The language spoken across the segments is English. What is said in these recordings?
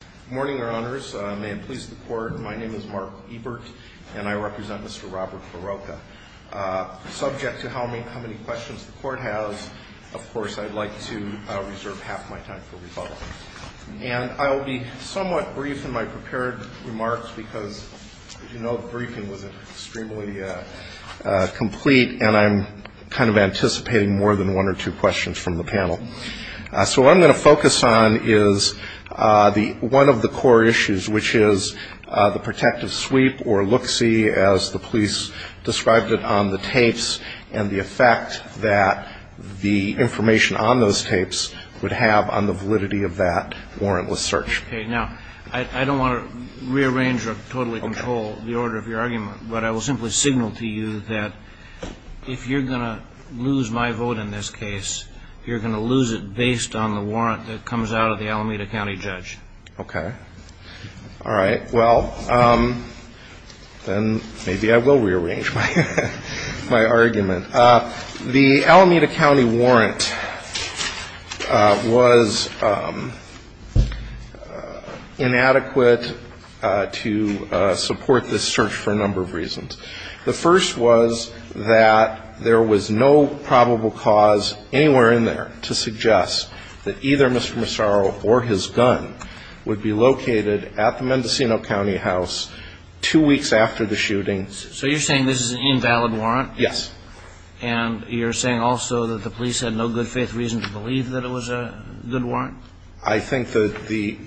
Good morning, Your Honors. May it please the Court, my name is Mark Ebert, and I represent Mr. Robert Barroca. Subject to how many questions the Court has, of course, I'd like to reserve half my time for rebuttal. And I will be somewhat brief in my prepared remarks because, as you know, the briefing was extremely complete, and I'm kind of anticipating more than one or two questions from the panel. So what I'm going to focus on is the one of the core issues, which is the protective sweep, or look-see, as the police described it on the tapes, and the effect that the information on those tapes would have on the validity of that warrantless search. Okay. Now, I don't want to rearrange or totally control the order of your argument, but I will simply signal to you that if you're going to lose my vote in this case, you're going to lose it based on the warrant that comes out of the Alameda County judge. Okay. All right. Well, then maybe I will rearrange my argument. The Alameda County warrant was inadequate to support this search for a number of reasons. The first was that there was no probable cause anywhere in there to suggest that either Mr. Massaro or his gun would be located at the Mendocino County house two weeks after the shooting. So you're saying this is an invalid warrant? Yes. And you're saying also that the police had no good faith reason to believe that it was a good warrant? I think that the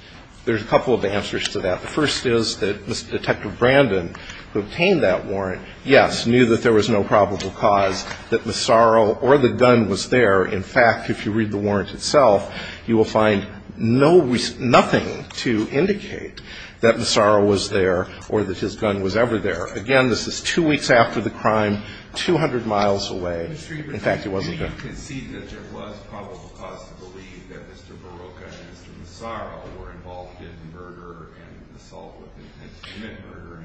– there's a couple of answers to that. The first is that Mr. Detective Brandon, who obtained that warrant, yes, knew that there was no probable cause that Massaro or the gun was there. In fact, if you read the warrant itself, you will find no – nothing to indicate that Massaro was there or that his gun was ever there. Again, this is two weeks after the crime, 200 miles away. In fact, it wasn't there. I don't concede that there was probable cause to believe that Mr. Barocca and Mr. Massaro were involved in murder and assault with intent to commit murder.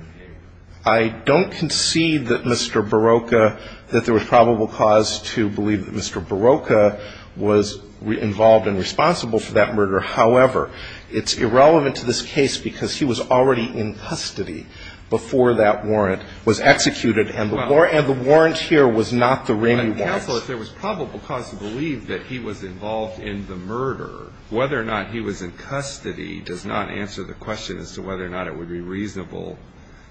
I don't concede that Mr. Barocca – that there was probable cause to believe that Mr. Barocca was involved and responsible for that murder. However, it's irrelevant to this case because he was already in custody before that warrant was executed, and the warrant here was not the Ramey warrant. Counsel, if there was probable cause to believe that he was involved in the murder, whether or not he was in custody does not answer the question as to whether or not it would be reasonable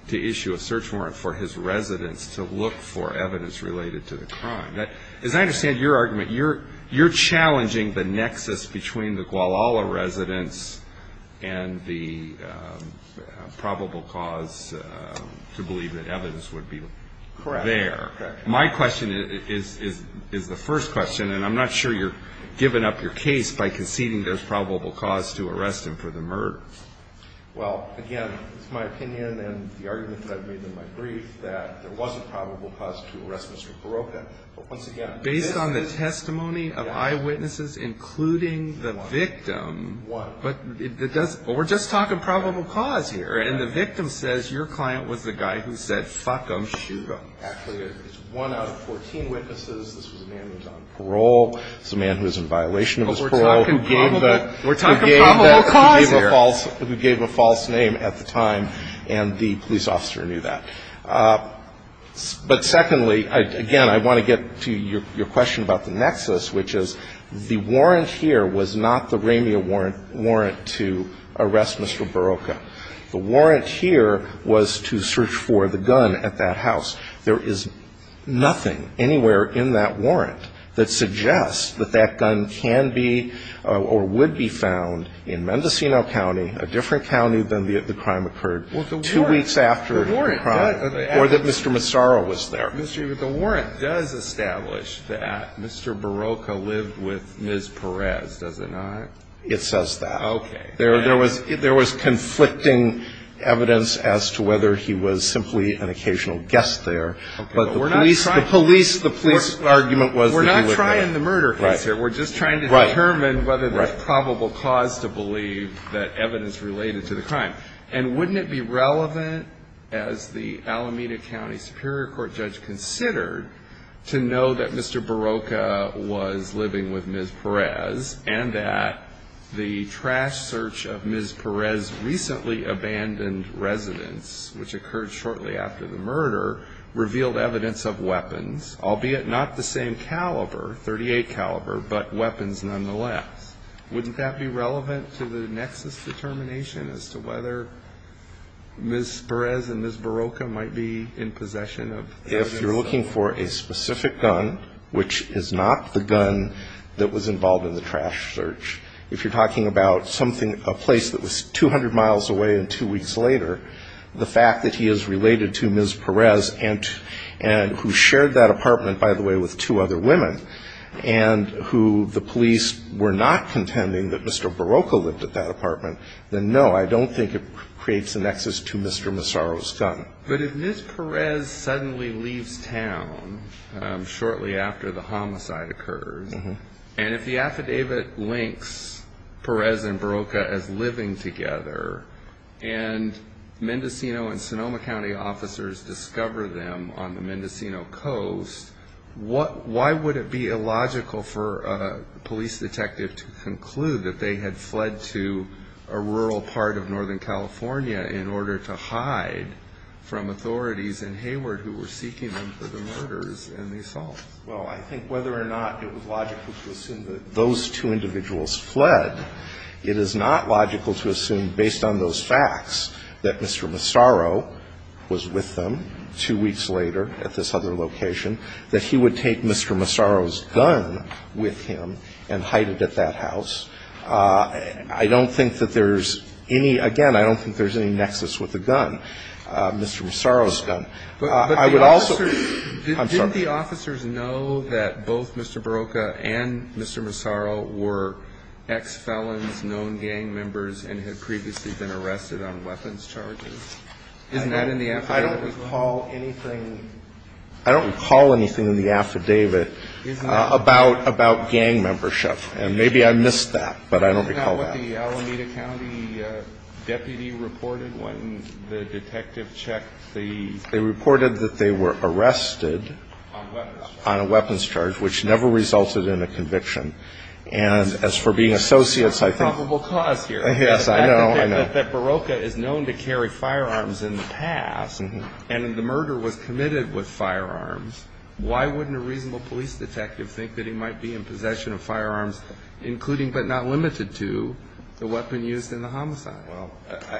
to issue a search warrant for his residence to look for evidence related to the crime. As I understand your argument, you're challenging the nexus between the Guadalajara residence and the probable cause to believe that evidence would be there. Correct. My question is the first question, and I'm not sure you're giving up your case by conceding there's probable cause to arrest him for the murder. Well, again, it's my opinion and the argument that I've made in my brief that there was a probable cause to arrest Mr. Barocca. But once again – Based on the testimony of eyewitnesses, including the victim – One. One. We're just talking probable cause here. And the victim says your client was the guy who said, fuck him, shoot him. Actually, it's one out of 14 witnesses. This was a man who was on parole. This was a man who was in violation of his parole who gave a – We're talking probable cause here. Who gave a false name at the time, and the police officer knew that. But secondly, again, I want to get to your question about the nexus, which is the warrant here was not the Ramia warrant to arrest Mr. Barocca. The warrant here was to search for the gun at that house. There is nothing anywhere in that warrant that suggests that that gun can be or would be found in Mendocino County, a different county than the crime occurred, two weeks after the crime, or that Mr. Massaro was there. The warrant does establish that Mr. Barocca lived with Ms. Perez, does it not? It says that. Okay. There was conflicting evidence as to whether he was simply an occasional guest there. But the police argument was that he was there. We're not trying the murder case here. We're just trying to determine whether there's probable cause to believe that evidence related to the crime. And wouldn't it be relevant, as the Alameda County Superior Court judge considered, to know that Mr. Barocca was living with Ms. Perez and that the trash search of Ms. Perez's recently abandoned residence, which occurred shortly after the murder, revealed evidence of weapons, albeit not the same caliber, 38 caliber, but weapons nonetheless. Wouldn't that be relevant to the nexus determination as to whether Ms. Perez and Ms. Barocca might be in possession of evidence? If you're looking for a specific gun, which is not the gun that was involved in the trash search, if you're talking about something, a place that was 200 miles away and two weeks later, the fact that he is related to Ms. Perez, and who shared that apartment, by the way, with two other women, and who the police were not contending that Mr. Barocca lived at that apartment, then no, I don't think it creates a nexus to Mr. Massaro's gun. But if Ms. Perez suddenly leaves town shortly after the homicide occurred, and if the affidavit links Perez and Barocca as living together, and Mendocino and Sonoma County officers discover them on the Mendocino Coast, why would it be illogical for a police detective to conclude that they had fled to a rural part of Northern California in order to hide from authorities in Hayward who were seeking them for the murders and the assaults? Well, I think whether or not it was logical to assume that those two individuals fled, it is not logical to assume, based on those facts, that Mr. Massaro was with them two weeks later at this other location, that he would take Mr. Massaro's gun with him and hide it at that house, because I don't think that there's any, again, I don't think there's any nexus with the gun, Mr. Massaro's gun. I would also, I'm sorry. Didn't the officers know that both Mr. Barocca and Mr. Massaro were ex-felons, known gang members, and had previously been arrested on weapons charges? Isn't that in the affidavit as well? No, but I don't recall that. Isn't that what the Alameda County deputy reported when the detective checked the... They reported that they were arrested on a weapons charge, which never resulted in a conviction, and as for being associates, I think... Yes, I know, I know. But if we assume that Barocca is known to carry firearms in the past, and the murder was committed with firearms, why wouldn't a reasonable police detective think that he might be in possession of firearms, including, but not limited to, the weapon used in the homicide? Well,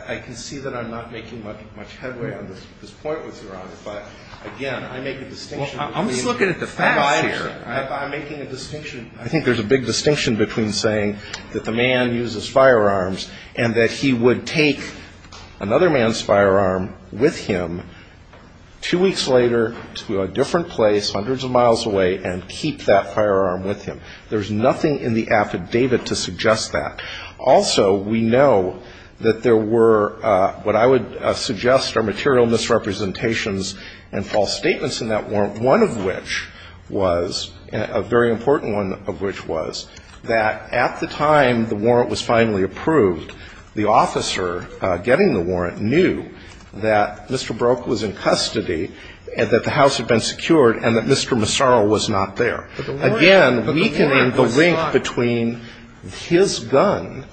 I can see that I'm not making much headway on this point with Your Honor, but, again, I make a distinction between... Well, I'm just looking at the facts here. I'm making a distinction. I think there's a big distinction between saying that the man uses firearms, and that he would take another man's firearm with him two weeks later to a different place, hundreds of miles away, and keep that firearm with him. There's nothing in the affidavit to suggest that. Also, we know that there were what I would suggest are material misrepresentations and false statements in that warrant, one of which was that Mr. Barocca was in possession of a firearm. There was a very important one of which was that at the time the warrant was finally approved, the officer getting the warrant knew that Mr. Barocca was in custody and that the house had been secured and that Mr. Massaro was not there. Again, weakening the link between his gun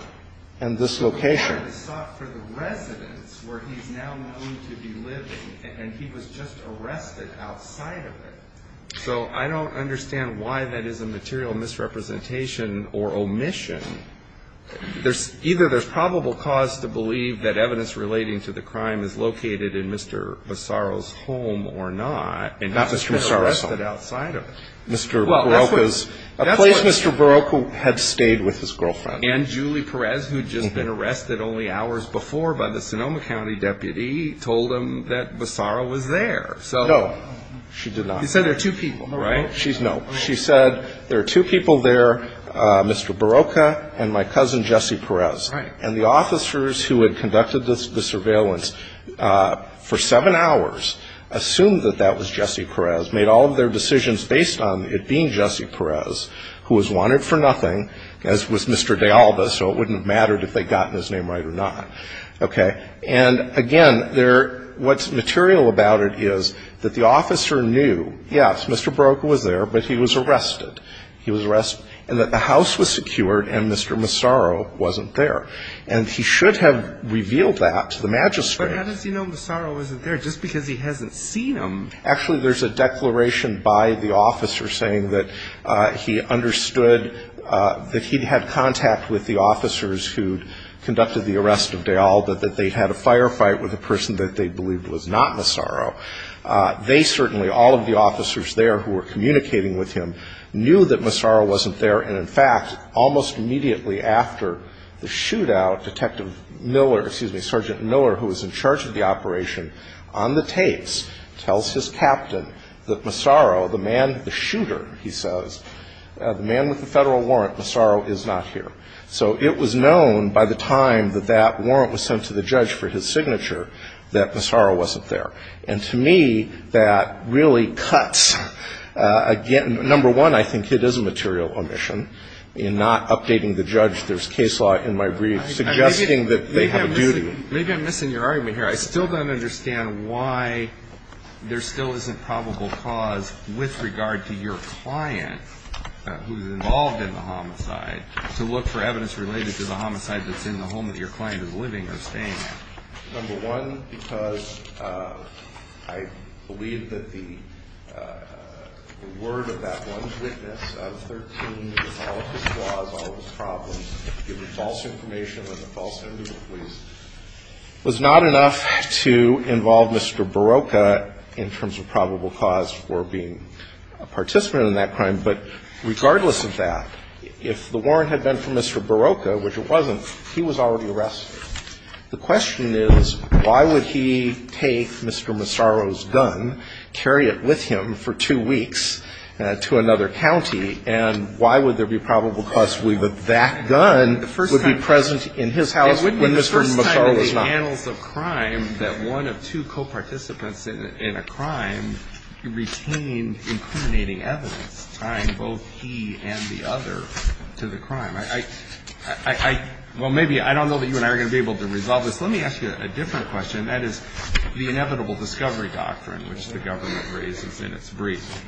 and this location. But the warrant was sought for the residence where he's now known to be living, and he was just arrested outside of it. So I don't understand why that is a material misrepresentation or omission. Either there's probable cause to believe that evidence relating to the crime is located in Mr. Massaro's home or not, and he was just arrested outside of it. A place Mr. Barocca had stayed with his girlfriend. And Julie Perez, who had just been arrested only hours before by the Sonoma County deputy, told him that Massaro was there. No. She did not. He said there are two people, right? No. She said there are two people there, Mr. Barocca and my cousin Jesse Perez. Right. And the officers who had conducted the surveillance for seven hours assumed that that was Jesse Perez, made all of their decisions based on it being Jesse Perez, who was wanted for nothing, as was Mr. De Alba, so it wouldn't have mattered if they'd gotten his name right or not. Okay. And, again, what's material about it is that the officer knew, yes, Mr. Barocca was there, but he was arrested. He was arrested, and that the house was secured and Mr. Massaro wasn't there. And he should have revealed that to the magistrate. But how does he know Massaro wasn't there just because he hasn't seen him? Actually, there's a declaration by the officer saying that he understood that he'd had contact with the officers who'd conducted the arrest of De Alba, that they'd had a firefight with a person that they believed was not Massaro. They certainly, all of the officers there who were communicating with him, knew that Massaro wasn't there, and, in fact, almost immediately after the shootout, Detective Miller, excuse me, Sergeant Miller, who was in charge of the operation, on the tapes, tells his captain that Massaro, the man, the shooter, he says, the man with the federal warrant, Massaro is not here. So it was known by the time that that warrant was sent to the judge for his signature that Massaro wasn't there. And to me, that really cuts, again, number one, I think it is a material omission in not updating the judge. There's case law in my brief suggesting that they have a duty. Maybe I'm missing your argument here. I still don't understand why there still isn't probable cause with regard to your client who's involved in the homicide to look for evidence related to the homicide that's in the home that your client is living or staying in. It was not enough to involve Mr. Barocca in terms of probable cause for being a participant in that crime. But regardless of that, if the warrant had been for Mr. Barocca, which it wasn't, he was already arrested. The question is, why would he take Mr. Massaro's gun, carry it with him for two weeks to another county, and why would there be probable cause with that gun? The first time the gun would be present in his house when Mr. Massaro was not. It wouldn't be the first time in the annals of crime that one of two co-participants in a crime retained incriminating evidence tying both he and the other to the crime. I don't know that you and I are going to be able to resolve this. Let me ask you a different question, and that is the inevitable discovery doctrine, which the government raises in its brief.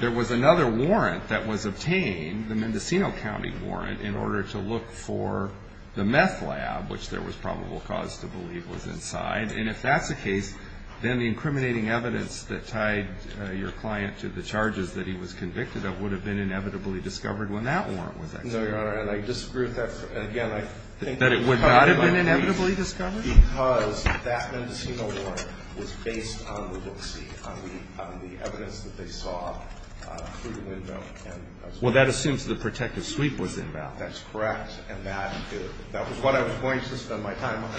There was another warrant that was obtained, the Mendocino County warrant, in order to look for the meth lab, which there was probable cause to believe was inside. And if that's the case, then the incriminating evidence that tied your client to the charges that he was convicted of would have been inevitably discovered when that warrant was executed. No, Your Honor, and I disagree with that. Again, I think that it would not have been inevitably discovered. Because that Mendocino warrant was based on the look-see, on the evidence that they saw through the window. Well, that assumes the protective sweep was invalid. That's correct. And that was what I was going to spend my time on.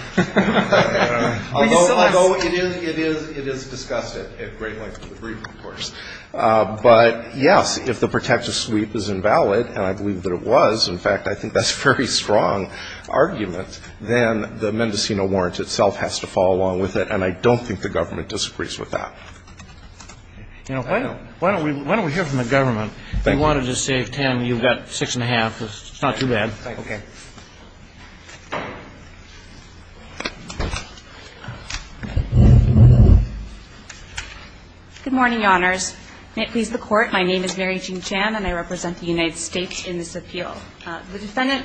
Although it is discussed at great length in the brief, of course. But, yes, if the protective sweep is invalid, and I believe that it was, in fact, I think that's a very strong argument, then the Mendocino warrant itself has to fall along with it. And I don't think the government disagrees with that. You know, why don't we hear from the government? Thank you. We wanted to save time. You've got six and a half. It's not too bad. Okay. Good morning, Your Honors. May it please the Court. My name is Mary Jean Chan, and I represent the United States in this appeal. The defendant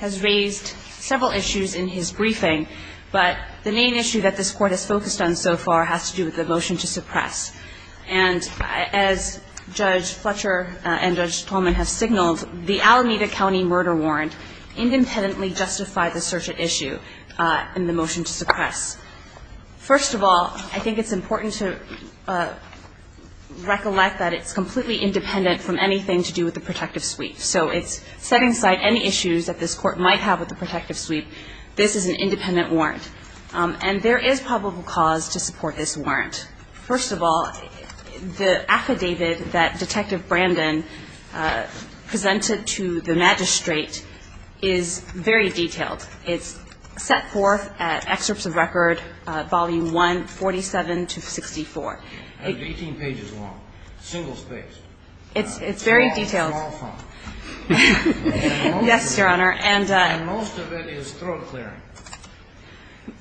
has raised several issues in his briefing, but the main issue that this Court has focused on so far has to do with the motion to suppress. And as Judge Fletcher and Judge Tolman have signaled, the Alameda County murder warrant independently justified the search at issue in the motion to suppress. First of all, I think it's important to recollect that it's completely independent from anything to do with the protective sweep. So it's setting aside any issues that this Court might have with the protective sweep. This is an independent warrant. And there is probable cause to support this warrant. First of all, the affidavit that Detective Brandon presented to the magistrate is very detailed. It's set forth at Excerpts of Record, Volume 1, 47 to 64. It's 18 pages long, single spaced. It's very detailed. Yes, Your Honor. And most of it is throat clearing.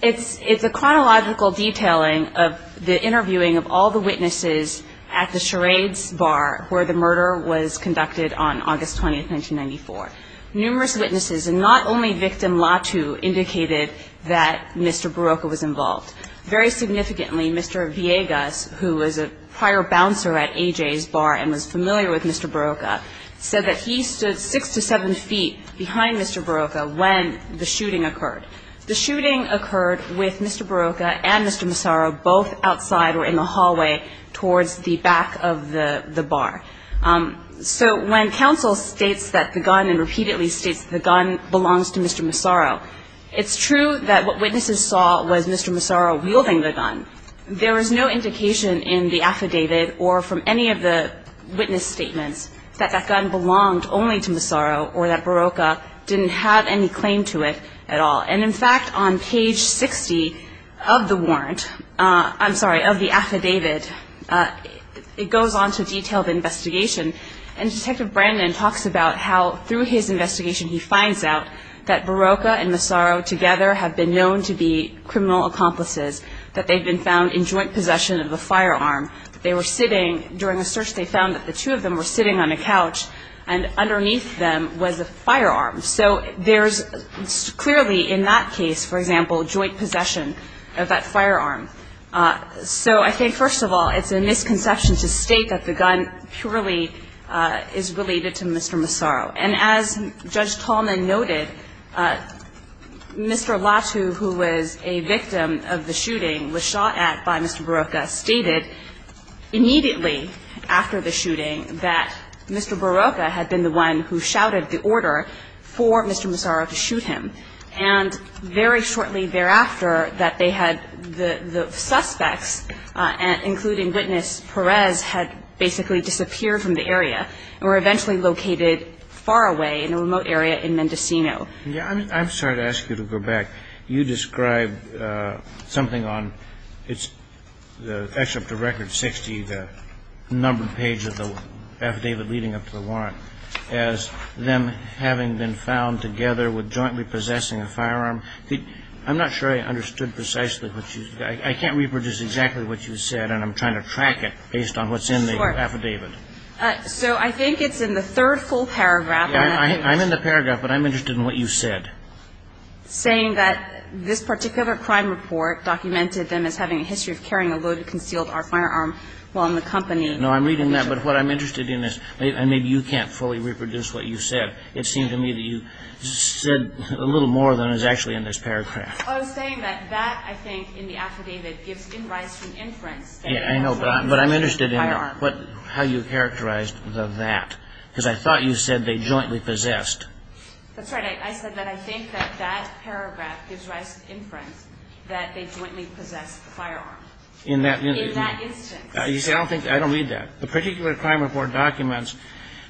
It's a chronological detailing of the interviewing of all the witnesses at the charades bar where the murder was conducted on August 20, 1994. Numerous witnesses, and not only victim Latu, indicated that Mr. Barocca was involved. Very significantly, Mr. Villegas, who was a prior bouncer at A.J.'s bar and was a witness, said that he stood six to seven feet behind Mr. Barocca when the shooting occurred. The shooting occurred with Mr. Barocca and Mr. Massaro both outside or in the hallway towards the back of the bar. So when counsel states that the gun and repeatedly states that the gun belongs to Mr. Massaro, it's true that what witnesses saw was Mr. Massaro wielding the gun. There was no indication in the affidavit or from any of the witness statements that that gun belonged only to Massaro or that Barocca didn't have any claim to it at all. And, in fact, on page 60 of the warrant, I'm sorry, of the affidavit, it goes on to detailed investigation. And Detective Brandon talks about how through his investigation he finds out that Barocca and Massaro together have been known to be criminal accomplices, that they've been found in joint possession of a firearm. They were sitting during a search. They found that the two of them were sitting on a couch, and underneath them was a firearm. So there's clearly in that case, for example, joint possession of that firearm. So I think, first of all, it's a misconception to state that the gun purely is related to Mr. Massaro. And as Judge Tallman noted, Mr. Latu, who was a victim of the shooting, was shot at by Mr. Barocca, stated immediately after the shooting that Mr. Barocca had been the one who shouted the order for Mr. Massaro to shoot him. And very shortly thereafter that they had the suspects, including Witness Perez, had basically disappeared from the area and were eventually located far away in a remote area in Mendocino. Yeah. I'm sorry to ask you to go back. You described something on the excerpt of Record 60, the numbered page of the affidavit leading up to the warrant, as them having been found together with jointly possessing a firearm. I'm not sure I understood precisely what you said. I can't reproduce exactly what you said, and I'm trying to track it based on what's in the affidavit. So I think it's in the third full paragraph. I'm in the paragraph, but I'm interested in what you said. Saying that this particular crime report documented them as having a history of carrying a loaded, concealed R firearm while in the company. No, I'm reading that. But what I'm interested in is maybe you can't fully reproduce what you said. It seemed to me that you said a little more than is actually in this paragraph. I was saying that that, I think, in the affidavit, gives in rice to inference. Yeah, I know. But I'm interested in how you characterized the that, because I thought you said they jointly possessed. That's right. I said that I think that that paragraph gives rise to inference that they jointly possessed the firearm. In that instance. You see, I don't read that. The particular crime report documents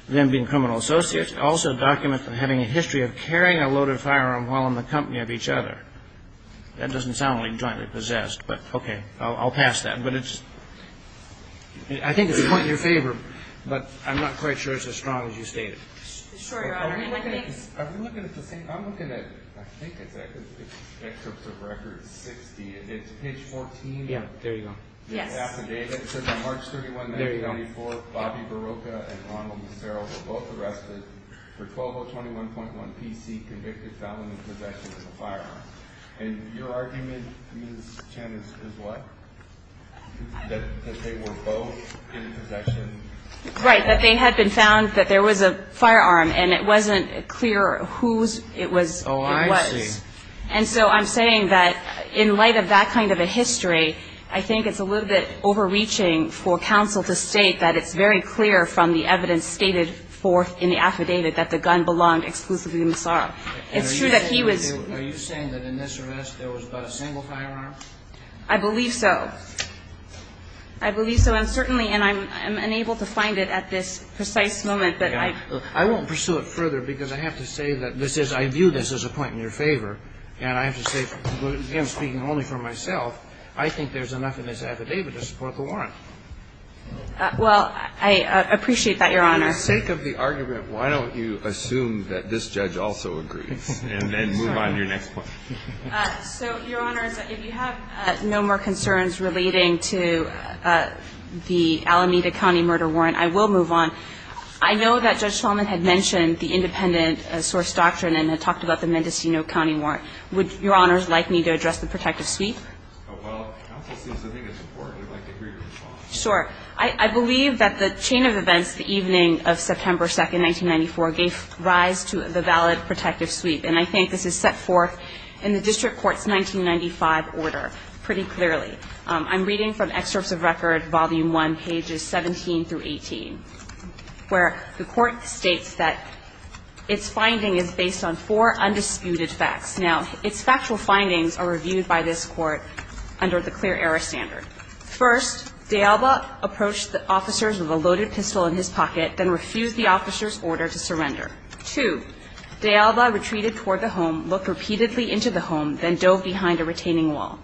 them being criminal associates. It also documents them having a history of carrying a loaded firearm while in the company of each other. That doesn't sound like jointly possessed. But, okay, I'll pass that. But it's, I think it's a point in your favor, but I'm not quite sure it's as strong as you stated. Are we looking at the same, I'm looking at, I think it's excerpts of record 60. It's page 14. Yeah, there you go. The affidavit says on March 31, 1994, Bobby Barocca and Ronald Lucero were both arrested for 12-021.1PC, convicted felon in possession of a firearm. And your argument, Ms. Chen, is what? That they were both in possession? Right, that they had been found, that there was a firearm, and it wasn't clear whose it was. Oh, I see. And so I'm saying that in light of that kind of a history, I think it's a little bit overreaching for counsel to state that it's very clear from the evidence stated forth in the affidavit that the gun belonged exclusively to Massaro. It's true that he was ---- Are you saying that in this arrest there was but a single firearm? I believe so. I believe so, and certainly, and I'm unable to find it at this precise moment that I ---- And I have to say, again, speaking only for myself, I think there's enough in this affidavit to support the warrant. Well, I appreciate that, Your Honor. For the sake of the argument, why don't you assume that this judge also agrees, and then move on to your next point. So, Your Honor, if you have no more concerns relating to the Alameda County murder warrant, I will move on. I know that Judge Shulman had mentioned the independent source doctrine and had talked about the Mendocino County warrant. Would Your Honors like me to address the protective sweep? Well, counsel, since I think it's important, I'd like to hear your response. Sure. I believe that the chain of events the evening of September 2, 1994, gave rise to the valid protective sweep, and I think this is set forth in the district court's 1995 order pretty clearly. I'm reading from Excerpts of Record, Volume 1, pages 17 through 18, where the court states that its finding is based on four undisputed facts. Now, its factual findings are reviewed by this court under the clear error standard. First, D'Alba approached the officers with a loaded pistol in his pocket, then refused the officer's order to surrender. Two, D'Alba retreated toward the home, looked repeatedly into the home, then dove behind a retaining wall.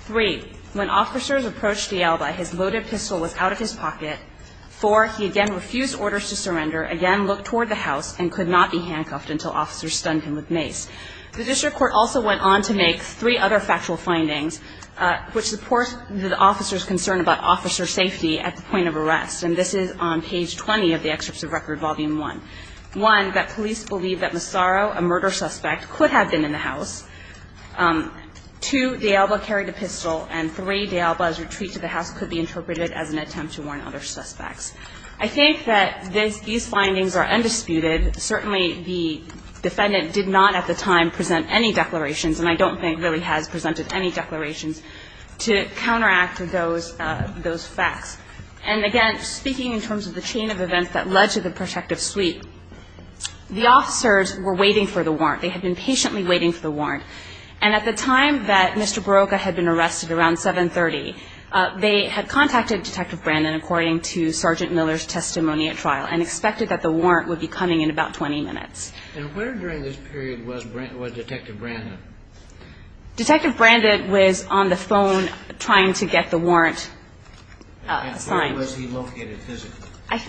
Three, when officers approached D'Alba, his loaded pistol was out of his pocket. Four, he again refused orders to surrender, again looked toward the house, and could not be handcuffed until officers stunned him with mace. The district court also went on to make three other factual findings, which supports the officer's concern about officer safety at the point of arrest, and this is on page 20 of the Excerpts of Record, Volume 1. One, that police believe that Massaro, a murder suspect, could have been in the house. Two, D'Alba carried a pistol. And three, D'Alba's retreat to the house could be interpreted as an attempt to warn other suspects. I think that these findings are undisputed. Certainly, the defendant did not at the time present any declarations, and I don't think really has presented any declarations, to counteract those facts. And again, speaking in terms of the chain of events that led to the protective sweep, the officers were waiting for the warrant. They had been patiently waiting for the warrant. And at the time that Mr. Barocca had been arrested, around 730, they had contacted Detective Brandon, according to Sergeant Miller's testimony at trial, and expected that the warrant would be coming in about 20 minutes. And where during this period was Detective Brandon? Detective Brandon was on the phone trying to get the warrant signed. And where was he located physically?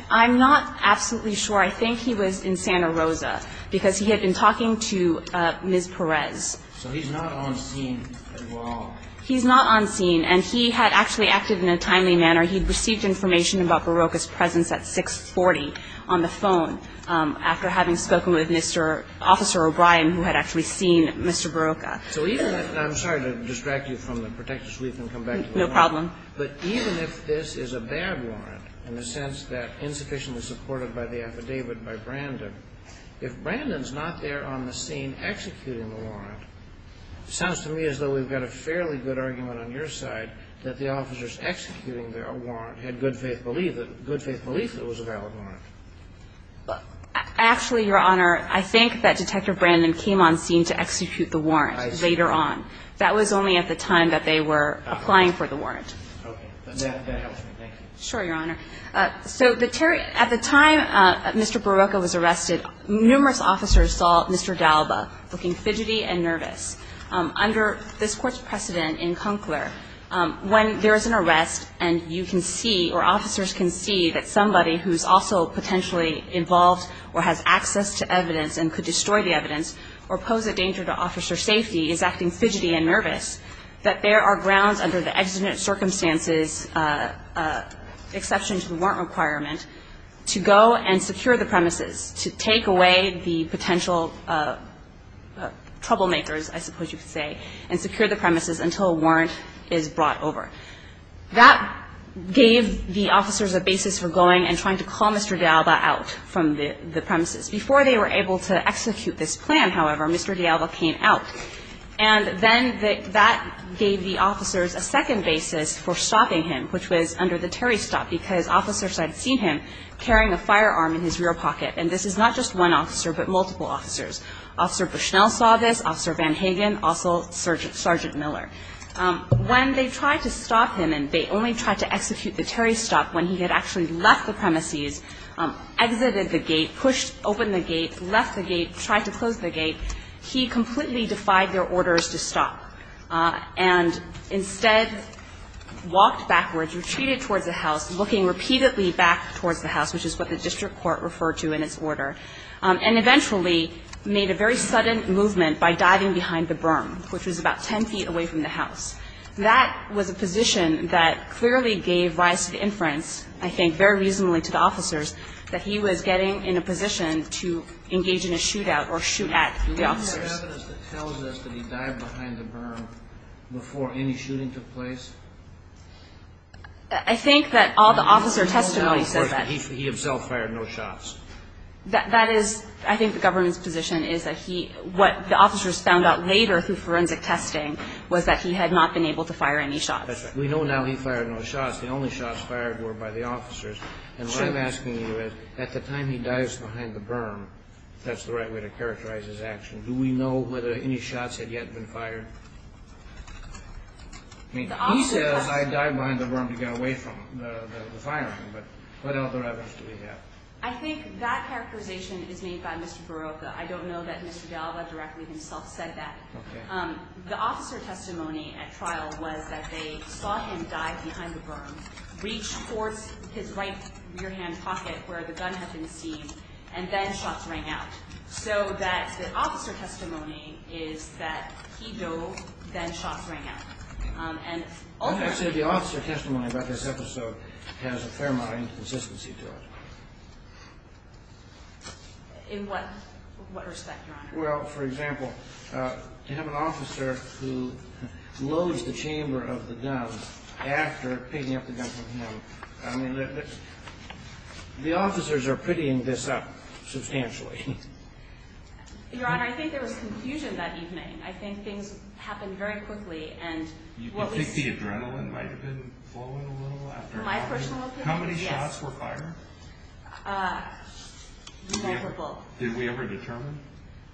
I'm not absolutely sure. I think he was in Santa Rosa, because he had been talking to Ms. Perez. So he's not on scene at all. He's not on scene. And he had actually acted in a timely manner. He had received information about Barocca's presence at 640 on the phone, after having spoken with Mr. Officer O'Brien, who had actually seen Mr. Barocca. So even if – and I'm sorry to distract you from the protective sweep and come back to the warrant. No problem. But even if this is a bad warrant, in the sense that insufficiently supported by the affidavit by Brandon, if Brandon's not there on the scene executing the warrant, it sounds to me as though we've got a fairly good argument on your side that the officers executing their warrant had good faith belief that it was a valid warrant. Actually, Your Honor, I think that Detective Brandon came on scene to execute the warrant later on. That was only at the time that they were applying for the warrant. Okay. That helps me. Thank you. Sure, Your Honor. So the – at the time Mr. Barocca was arrested, numerous officers saw Mr. D'Alba looking fidgety and nervous. Under this Court's precedent in Conkler, when there is an arrest and you can see or officers can see that somebody who's also potentially involved or has access to evidence and could destroy the evidence or pose a danger to officer safety is acting fidgety and nervous, that there are grounds under the exigent circumstances exception to the warrant requirement to go and secure the premises, to take away the potential troublemakers, I suppose you could say, and secure the premises until a warrant is brought over. That gave the officers a basis for going and trying to call Mr. D'Alba out from the premises. Before they were able to execute this plan, however, Mr. D'Alba came out. And then that gave the officers a second basis for stopping him, which was under the Terry stop, because officers had seen him carrying a firearm in his rear pocket. And this is not just one officer, but multiple officers. Officer Bushnell saw this, Officer Van Hagen, also Sergeant Miller. When they tried to stop him and they only tried to execute the Terry stop when he had actually left the premises, exited the gate, pushed open the gate, left the gate, tried to close the gate, he completely defied their orders to stop and instead walked backwards, retreated towards the house, looking repeatedly back towards the house, which is what the district court referred to in its order, and eventually made a very sudden movement by diving behind the berm, which was about 10 feet away from the house. That was a position that clearly gave rise to the inference, I think very reasonably to the officers, that he was getting in a position to engage in a shootout or shoot at the officers. Do we have evidence that tells us that he dived behind the berm before any shooting took place? I think that all the officer testimony says that. He himself fired no shots. That is, I think the government's position is that he, what the officers found out later through forensic testing was that he had not been able to fire any shots. We know now he fired no shots. The only shots fired were by the officers, and what I'm asking you is, at the time he dives behind the berm, that's the right way to characterize his action. Do we know whether any shots had yet been fired? He says, I dived behind the berm to get away from the firing, but what other evidence do we have? I think that characterization is made by Mr. Barocca. I don't know that Mr. Galva directly himself said that. The officer testimony at trial was that they saw him dive behind the berm, reach towards his right rear-hand pocket where the gun had been seized, and then shots rang out. So that the officer testimony is that he dove, then shots rang out. I would say the officer testimony about this episode has a fair amount of inconsistency In what respect, Your Honor? Well, for example, to have an officer who loads the chamber of the gun after picking up the gun from him, I mean, the officers are prettying this up substantially. Your Honor, I think there was confusion that evening. I think things happened very quickly, and what we see... You think the adrenaline might have been flowing a little after that? My personal opinion, yes. How many shots were fired? Multiple. Did we ever determine?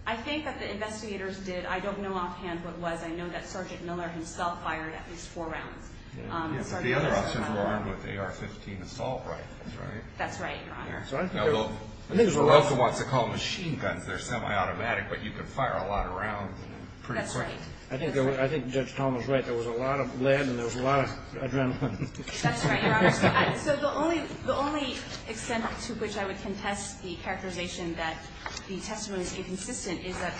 I think that the investigators did. I don't know offhand what it was. I know that Sergeant Miller himself fired at least four rounds. The other officers were armed with AR-15 assault rifles, right? That's right, Your Honor. Barocca wants to call them machine guns. They're semi-automatic, but you can fire a lot of rounds pretty quickly. That's right. I think Judge Thomas is right. There was a lot of lead, and there was a lot of adrenaline. That's right, Your Honor. So the only extent to which I would contest the characterization that the testimony is inconsistent is that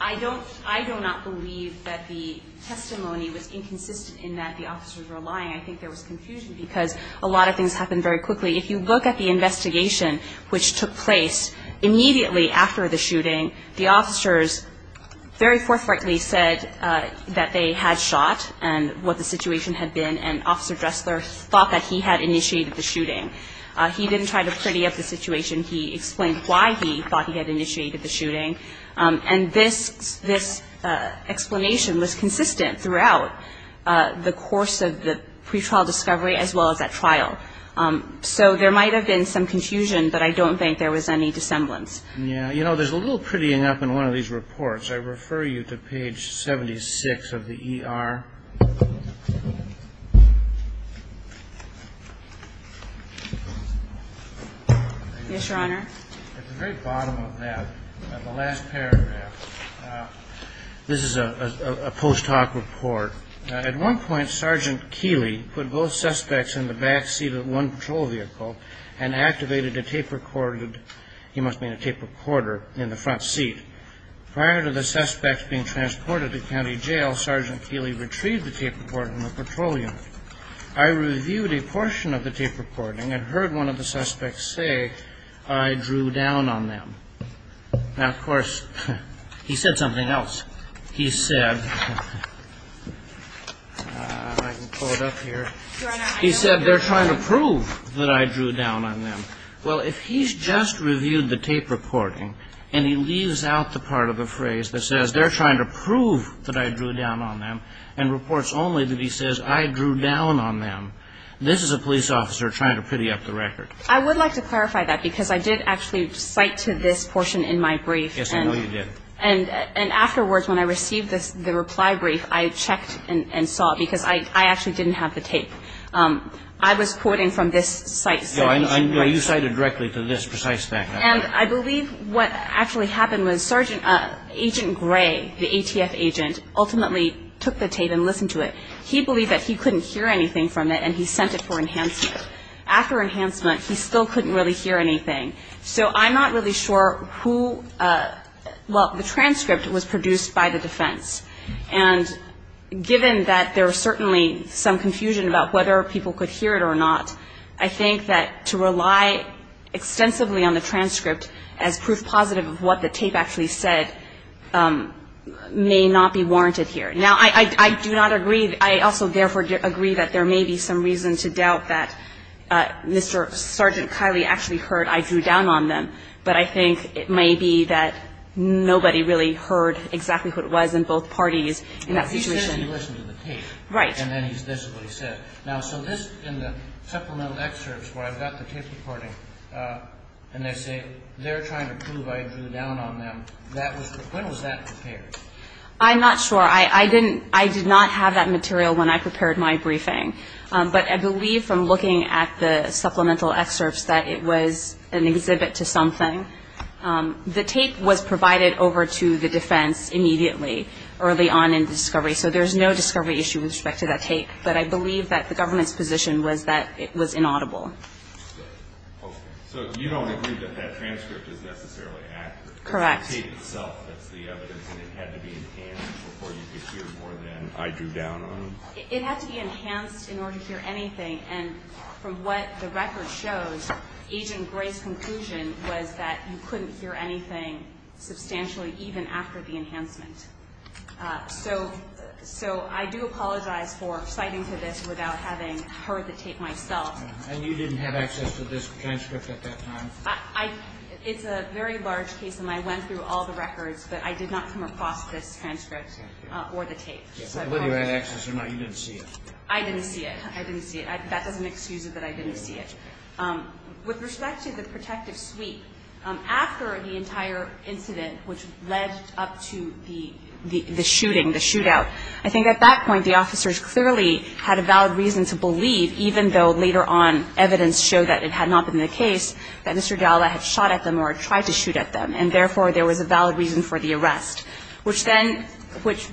I do not believe that the testimony was inconsistent in that the officers were lying. I think there was confusion because a lot of things happened very quickly. If you look at the investigation which took place immediately after the shooting, the officers very forthrightly said that they had shot and what the situation had been and Officer Dressler thought that he had initiated the shooting. He didn't try to pretty up the situation. He explained why he thought he had initiated the shooting. And this explanation was consistent throughout the course of the pretrial discovery as well as at trial. So there might have been some confusion, but I don't think there was any dissemblance. Yeah. You know, there's a little prettying up in one of these reports. I refer you to page 76 of the ER. Yes, Your Honor. At the very bottom of that, the last paragraph, this is a post hoc report. At one point, Sergeant Keeley put both suspects in the back seat of one patrol vehicle and activated a tape recorder. He must have been a tape recorder in the front seat. Prior to the suspects being transported to county jail, Sergeant Keeley retrieved the tape recorder from the patrol unit. I reviewed a portion of the tape recording and heard one of the suspects say, I drew down on them. Now, of course, he said something else. He said, I can pull it up here. He said, they're trying to prove that I drew down on them. Well, if he's just reviewed the tape recording and he leaves out the part of the phrase that says they're trying to prove that I drew down on them and reports only that he says I drew down on them, this is a police officer trying to pretty up the record. I would like to clarify that, because I did actually cite to this portion in my brief. Yes, I know you did. And afterwards, when I received the reply brief, I checked and saw, because I actually didn't have the tape. I was quoting from this citation. No, you cited directly to this precise fact. And I believe what actually happened was Sergeant, Agent Gray, the ATF agent, ultimately took the tape and listened to it. He believed that he couldn't hear anything from it, and he sent it for enhancement. After enhancement, he still couldn't really hear anything. So I'm not really sure who, well, the transcript was produced by the defense. And given that there was certainly some confusion about whether people could hear it or not, I think that to rely extensively on the transcript as proof positive of what the tape actually said may not be warranted here. Now, I do not agree. I also, therefore, agree that there may be some reason to doubt that Mr. Sergeant Kiley actually heard I drew down on them. But I think it may be that nobody really heard exactly what it was in both parties in that situation. He says he listened to the tape. Right. And then he says what he said. Now, so this, in the supplemental excerpts where I've got the tape recording, and they say they're trying to prove I drew down on them, that was, when was that prepared? I'm not sure. I didn't, I did not have that material when I prepared my briefing. But I believe from looking at the supplemental excerpts that it was an exhibit to something. The tape was provided over to the defense immediately, early on in the discovery. So there's no discovery issue with respect to that tape. But I believe that the government's position was that it was inaudible. So you don't agree that that transcript is necessarily accurate? Correct. Because the tape itself, that's the evidence, and it had to be enhanced before you could hear more than I drew down on them? It had to be enhanced in order to hear anything. And from what the record shows, Agent Gray's conclusion was that you couldn't hear anything substantially even after the enhancement. So I do apologize for citing to this without having heard the tape myself. And you didn't have access to this transcript at that time? It's a very large case, and I went through all the records, but I did not come across this transcript or the tape. Whether you had access or not, you didn't see it. I didn't see it. I didn't see it. That doesn't excuse it that I didn't see it. With respect to the protective suite, after the entire incident which led up to the shooting, the shootout, I think at that point the officers clearly had a valid reason to believe, even though later on evidence showed that it had not been the case, that Mr. Dalla had shot at them or tried to shoot at them, and therefore there was a valid reason for the arrest, which then,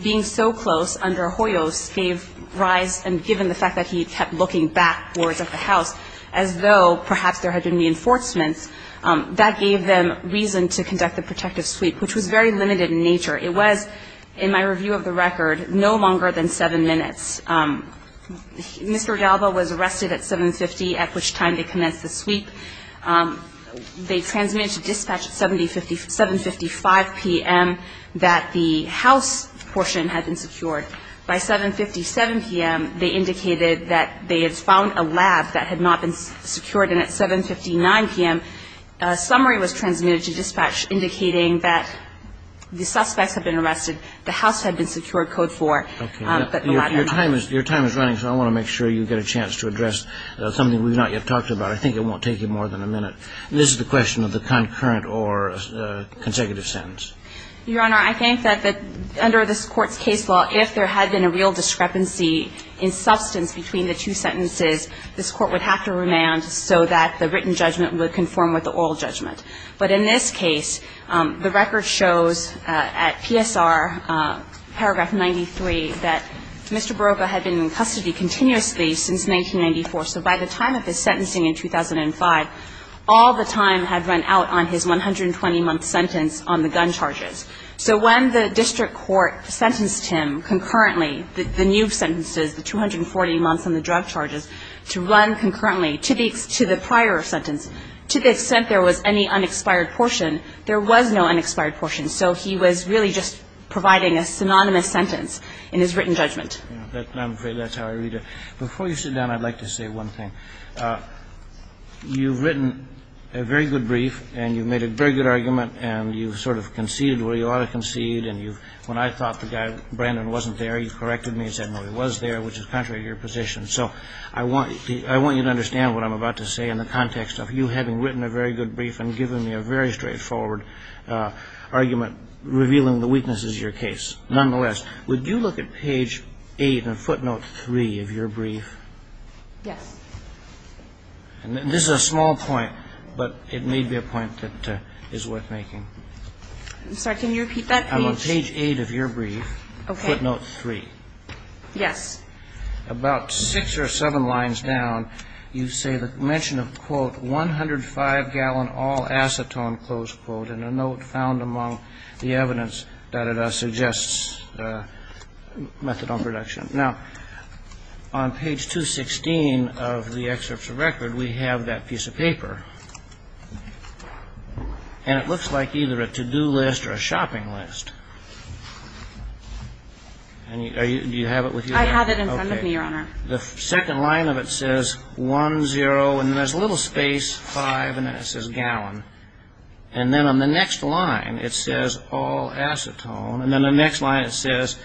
being so close under Hoyos, gave rise and given the fact that he kept looking backwards at the house as though perhaps there had been reinforcements, that gave them reason to conduct the protective suite, which was very limited in nature. It was, in my review of the record, no longer than seven minutes. Mr. Dalla was arrested at 7.50, at which time they commenced the suite. They transmitted to dispatch at 7.55 p.m. that the house portion had been secured. By 7.57 p.m., they indicated that they had found a lab that had not been secured, and at 7.59 p.m., a summary was transmitted to dispatch indicating that the suspects had been arrested, the house had been secured, Code 4. Okay. Your time is running, so I want to make sure you get a chance to address something we've not yet talked about. I think it won't take you more than a minute. This is the question of the concurrent or consecutive sentence. Your Honor, I think that under this Court's case law, if there had been a real discrepancy in substance between the two sentences, this Court would have to remand so that the written judgment would conform with the oral judgment. But in this case, the record shows at PSR, paragraph 93, that Mr. Baroca had been in custody continuously since 1994. So by the time of his sentencing in 2005, all the time had run out on his 120-month sentence on the gun charges. So when the district court sentenced him concurrently, the new sentences, the 240 months on the drug charges, to run concurrently to the prior sentence, to the extent there was any unexpired portion, there was no unexpired portion. So he was really just providing a synonymous sentence in his written judgment. I'm afraid that's how I read it. Before you sit down, I'd like to say one thing. You've written a very good brief, and you've made a very good argument, and you've sort of conceded where you ought to concede, and when I thought the guy, Brandon, wasn't there, you corrected me and said, no, he was there, which is contrary to your position. So I want you to understand what I'm about to say in the context of you having written a very good brief and given me a very straightforward argument revealing the weaknesses of your case. Nonetheless, would you look at page 8 in footnote 3 of your brief? Yes. And this is a small point, but it may be a point that is worth making. I'm sorry. Can you repeat that, please? On page 8 of your brief, footnote 3. Yes. About six or seven lines down, you say the mention of, quote, methadone production. Now, on page 216 of the excerpts of record, we have that piece of paper, and it looks like either a to-do list or a shopping list. Do you have it with you? I have it in front of me, Your Honor. The second line of it says 1-0, and then there's a little space, 5, and then it says gallon. And then on the next line, it says all acetone. And then the next line, it says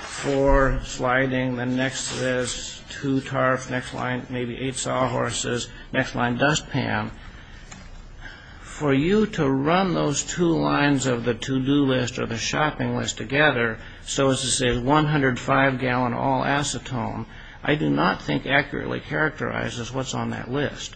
four sliding. The next says two tarps. Next line, maybe eight sawhorses. Next line, dustpan. For you to run those two lines of the to-do list or the shopping list together, so as to say 105-gallon all acetone, I do not think accurately characterizes what's on that list.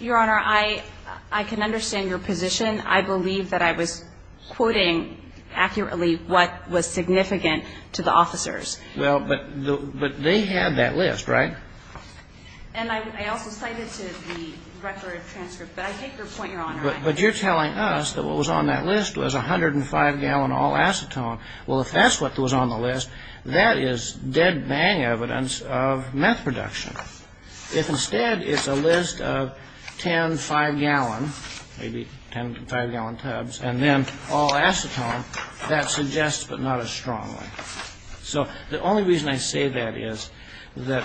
Your Honor, I can understand your position. I believe that I was quoting accurately what was significant to the officers. Well, but they had that list, right? And I also cited to the record transcript, but I take your point, Your Honor. But you're telling us that what was on that list was 105-gallon all acetone. Well, if that's what was on the list, that is dead-bang evidence of meth production. If instead it's a list of 10 5-gallon, maybe 10 5-gallon tubs, and then all acetone, that suggests but not as strongly. So the only reason I say that is that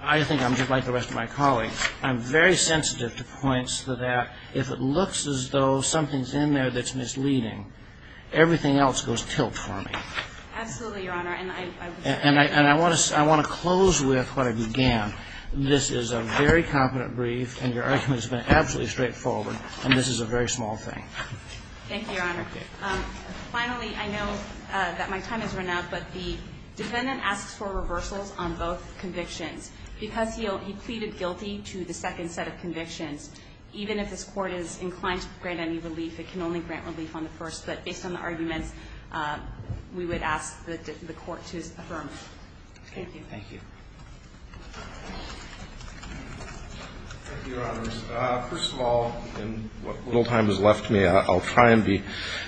I think I'm just like the rest of my colleagues. I'm very sensitive to points that if it looks as though something's in there that's misleading, everything else goes tilt for me. Absolutely, Your Honor. And I want to close with what I began. This is a very competent brief, and your argument has been absolutely straightforward, and this is a very small thing. Thank you, Your Honor. Finally, I know that my time has run out, but the defendant asks for reversals on both convictions. Because he pleaded guilty to the second set of convictions, even if this Court is inclined to grant any relief, it can only grant relief on the first. But based on the arguments, we would ask the Court to affirm. Thank you. Thank you. Thank you, Your Honors. First of all, in what little time has left me, I'll try and be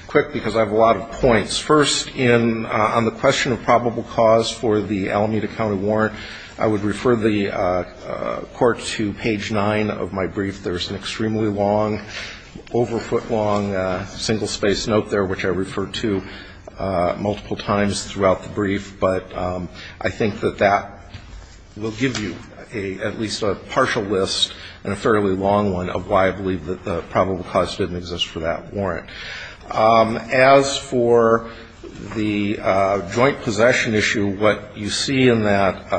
quick because I have a lot of points. First, on the question of probable cause for the Alameda County warrant, I would refer the Court to page 9 of my brief. There's an extremely long, over-foot-long, single-space note there, which I refer to multiple times throughout the brief. But I think that that will give you at least a partial list and a fairly long one of why I believe that the probable cause didn't exist for that warrant. As for the joint possession issue, what you see in that,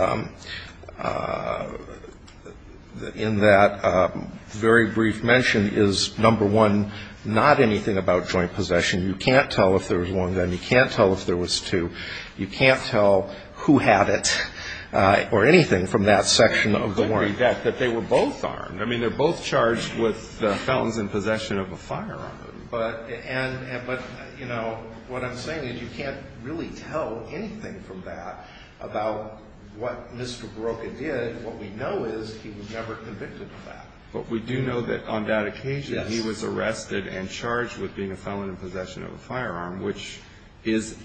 in that, very brief mention, is, number one, not anything about joint possession. You can't tell if there was one then. You can't tell if there was two. You can't tell who had it or anything from that section of the warrant. You couldn't read that, that they were both armed. I mean, they're both charged with the felons in possession of a firearm. But, you know, what I'm saying is you can't really tell anything from that about what Mr. Barocca did. What we know is he was never convicted of that. But we do know that on that occasion he was arrested and charged with being a felon in possession of a firearm, which is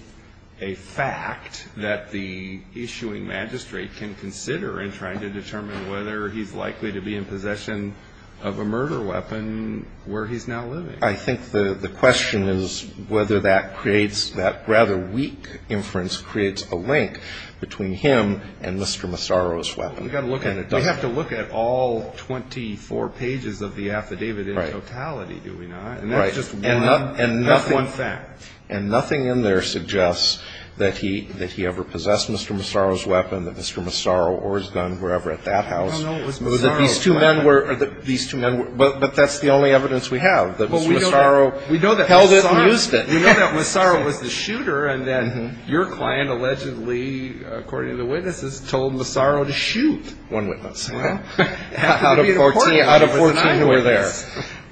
a fact that the issuing magistrate can consider in trying to determine whether he's likely to be in possession of a murder weapon where he's now living. I think the question is whether that creates that rather weak inference, creates a link between him and Mr. Massaro's weapon. We've got to look at it. We have to look at all 24 pages of the affidavit in totality, do we not? Right. And that's just one fact. And nothing in there suggests that he ever possessed Mr. Massaro's weapon, that Mr. Massaro or his gun were ever at that house. No, no, it was Massaro's weapon. These two men were, but that's the only evidence we have, that Mr. Massaro held it and used it. We know that Massaro was the shooter, and then your client allegedly, according to the witnesses, told Massaro to shoot one witness out of 14 who were there.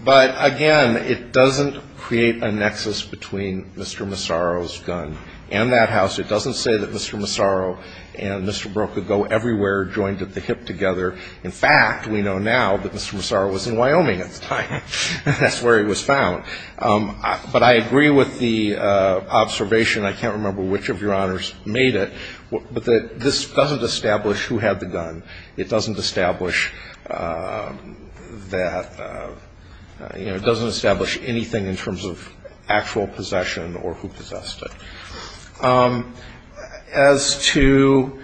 But, again, it doesn't create a nexus between Mr. Massaro's gun and that house. It doesn't say that Mr. Massaro and Mr. Broca go everywhere, joined at the hip together. In fact, we know now that Mr. Massaro was in Wyoming at the time. That's where he was found. But I agree with the observation. I can't remember which of your honors made it. But this doesn't establish who had the gun. It doesn't establish that, you know, it doesn't establish anything in terms of actual possession or who possessed it. As to,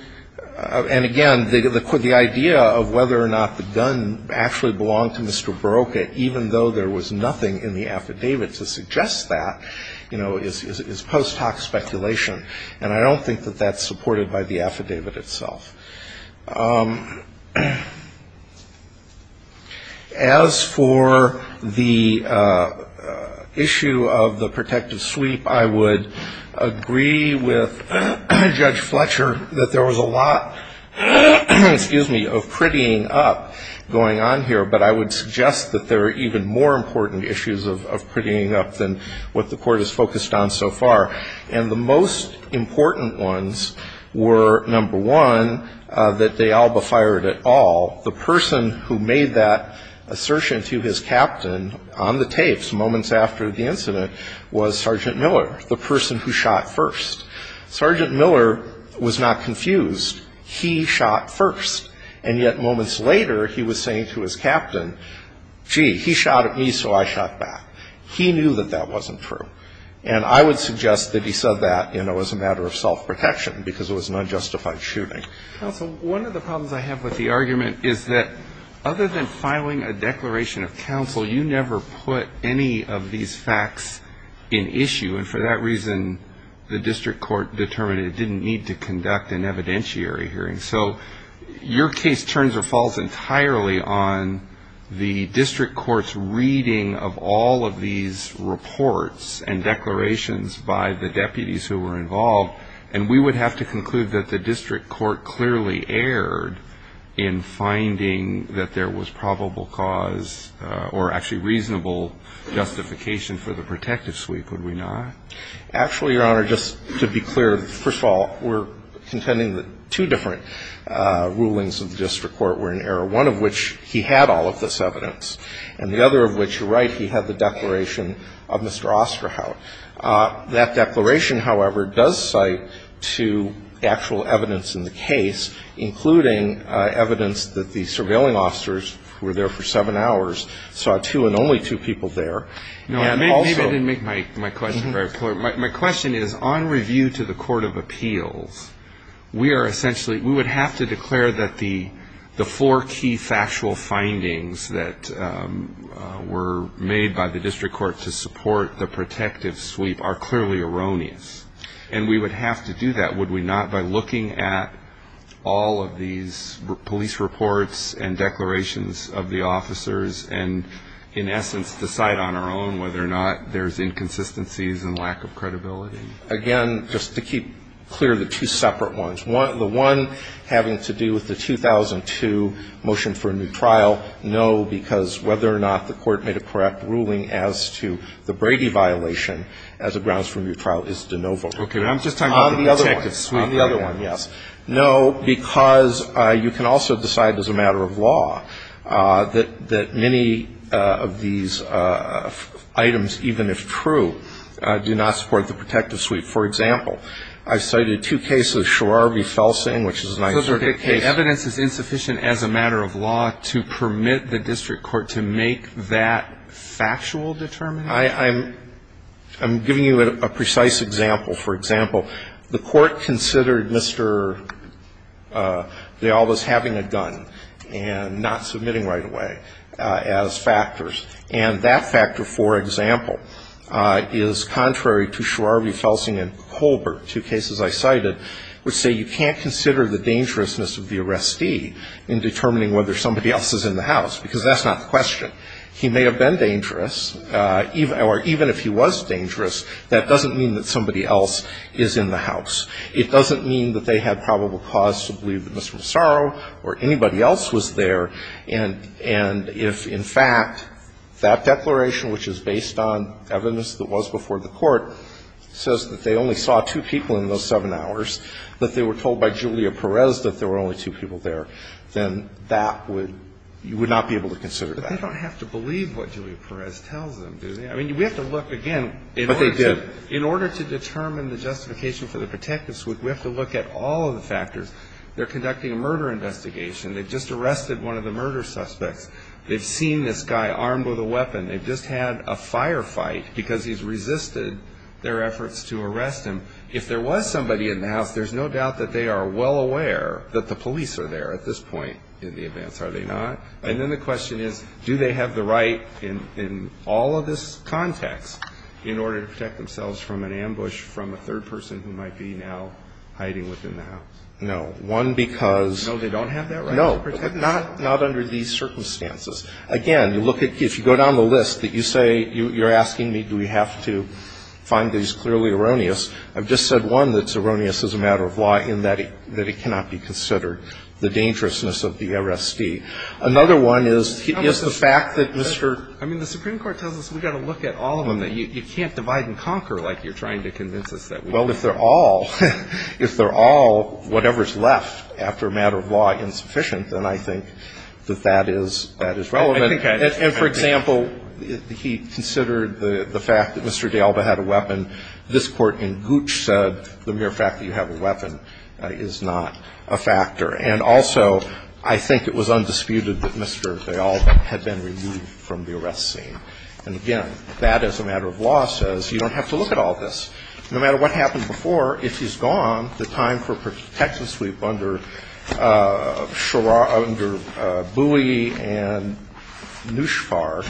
and, again, the idea of whether or not the gun actually belonged to Mr. Broca, even though there was nothing in the affidavit to suggest that, you know, is post hoc speculation. And I don't think that that's supported by the affidavit itself. As for the issue of the protective sweep, I would agree with Judge Fletcher that there was a lot, excuse me, of prettying up going on here. But I would suggest that there are even more important issues of prettying up than what the court has focused on so far. And the most important ones were, number one, that they all befired at all. The person who made that assertion to his captain on the tapes moments after the incident was Sergeant Miller, the person who shot first. Sergeant Miller was not confused. He shot first. And yet moments later, he was saying to his captain, gee, he shot at me, so I shot back. He knew that that wasn't true. And I would suggest that he said that, you know, as a matter of self-protection, because it was an unjustified shooting. Counsel, one of the problems I have with the argument is that other than filing a declaration of counsel, you never put any of these facts in issue. And for that reason, the district court determined it didn't need to conduct an evidentiary hearing. So your case turns or falls entirely on the district court's reading of all of these reports and declarations by the deputies who were involved. And we would have to conclude that the district court clearly erred in finding that there was probable cause or actually reasonable justification for the protective sweep, would we not? Actually, Your Honor, just to be clear, first of all, we're contending that two different rulings of the district court were in error, one of which he had all of this evidence, and the other of which, you're right, he had the declaration of Mr. Osterhout. That declaration, however, does cite to actual evidence in the case, including evidence that the surveilling officers were there for seven hours, saw two and only two people there. Maybe I didn't make my question very clear. My question is, on review to the court of appeals, we are essentially we would have to declare that the four key factual findings that were made by the district court to support the protective sweep are clearly erroneous. And we would have to do that, would we not, by looking at all of these police reports and declarations of the officers and, in essence, decide on our own whether or not there's inconsistencies and lack of credibility? Again, just to keep clear, the two separate ones. The one having to do with the 2002 motion for a new trial, no, because whether or not the court made a correct ruling as to the Brady violation as it grounds for a new trial is de novo. Okay. I'm just talking about the protective sweep. On the other one, yes. No, because you can also decide as a matter of law that many of these items, even if true, do not support the protective sweep. For example, I've cited two cases, Sharar v. Felsing, which is an isolated case. So the evidence is insufficient as a matter of law to permit the district court to make that factual determination? I'm giving you a precise example. For example, the court considered Mr. De Alva's having a gun and not submitting right away as factors. And that factor, for example, is contrary to Sharar v. Felsing and Colbert, two cases I cited, which say you can't consider the dangerousness of the arrestee in determining whether somebody else is in the house, because that's not the question. He may have been dangerous, or even if he was dangerous, that doesn't mean that somebody else is in the house. It doesn't mean that they had probable cause to believe that Mr. Massaro or anybody else was there. And if, in fact, that declaration, which is based on evidence that was before the court, says that they only saw two people in those seven hours, that they were told by Julia Perez that there were only two people there, then that would be, you have to believe what Julia Perez tells them, do they? I mean, we have to look, again, in order to determine the justification for the protectives, we have to look at all of the factors. They're conducting a murder investigation. They've just arrested one of the murder suspects. They've seen this guy armed with a weapon. They've just had a firefight because he's resisted their efforts to arrest him. If there was somebody in the house, there's no doubt that they are well aware that the police are there at this point in the events, are they not? And then the question is, do they have the right in all of this context in order to protect themselves from an ambush from a third person who might be now hiding within the house? No. One, because no, not under these circumstances. Again, you look at, if you go down the list that you say, you're asking me do we have to find that he's clearly erroneous, I've just said one that's erroneous as a matter of law in that it cannot be considered the dangerousness of the R.S.D. Another one is the fact that Mr. I mean, the Supreme Court tells us we've got to look at all of them. You can't divide and conquer like you're trying to convince us that. Well, if they're all, if they're all whatever's left after a matter of law insufficient, then I think that that is relevant. And for example, he considered the fact that Mr. And also, I think it was undisputed that Mr. They all had been removed from the arrest scene. And again, that as a matter of law says, you don't have to look at all this. No matter what happened before, if he's gone, the time for protection sweep under Booey and Nushfar,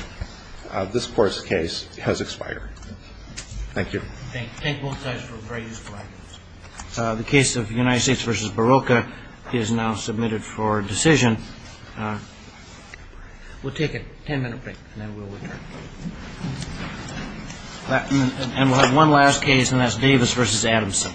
this Court's case has expired. Thank you. Thank you. Thank you both guys for a very useful argument. The case of United States v. Barocca is now submitted for decision. We'll take a ten-minute break, and then we'll return. And we'll have one last case, and that's Davis v. Adamson.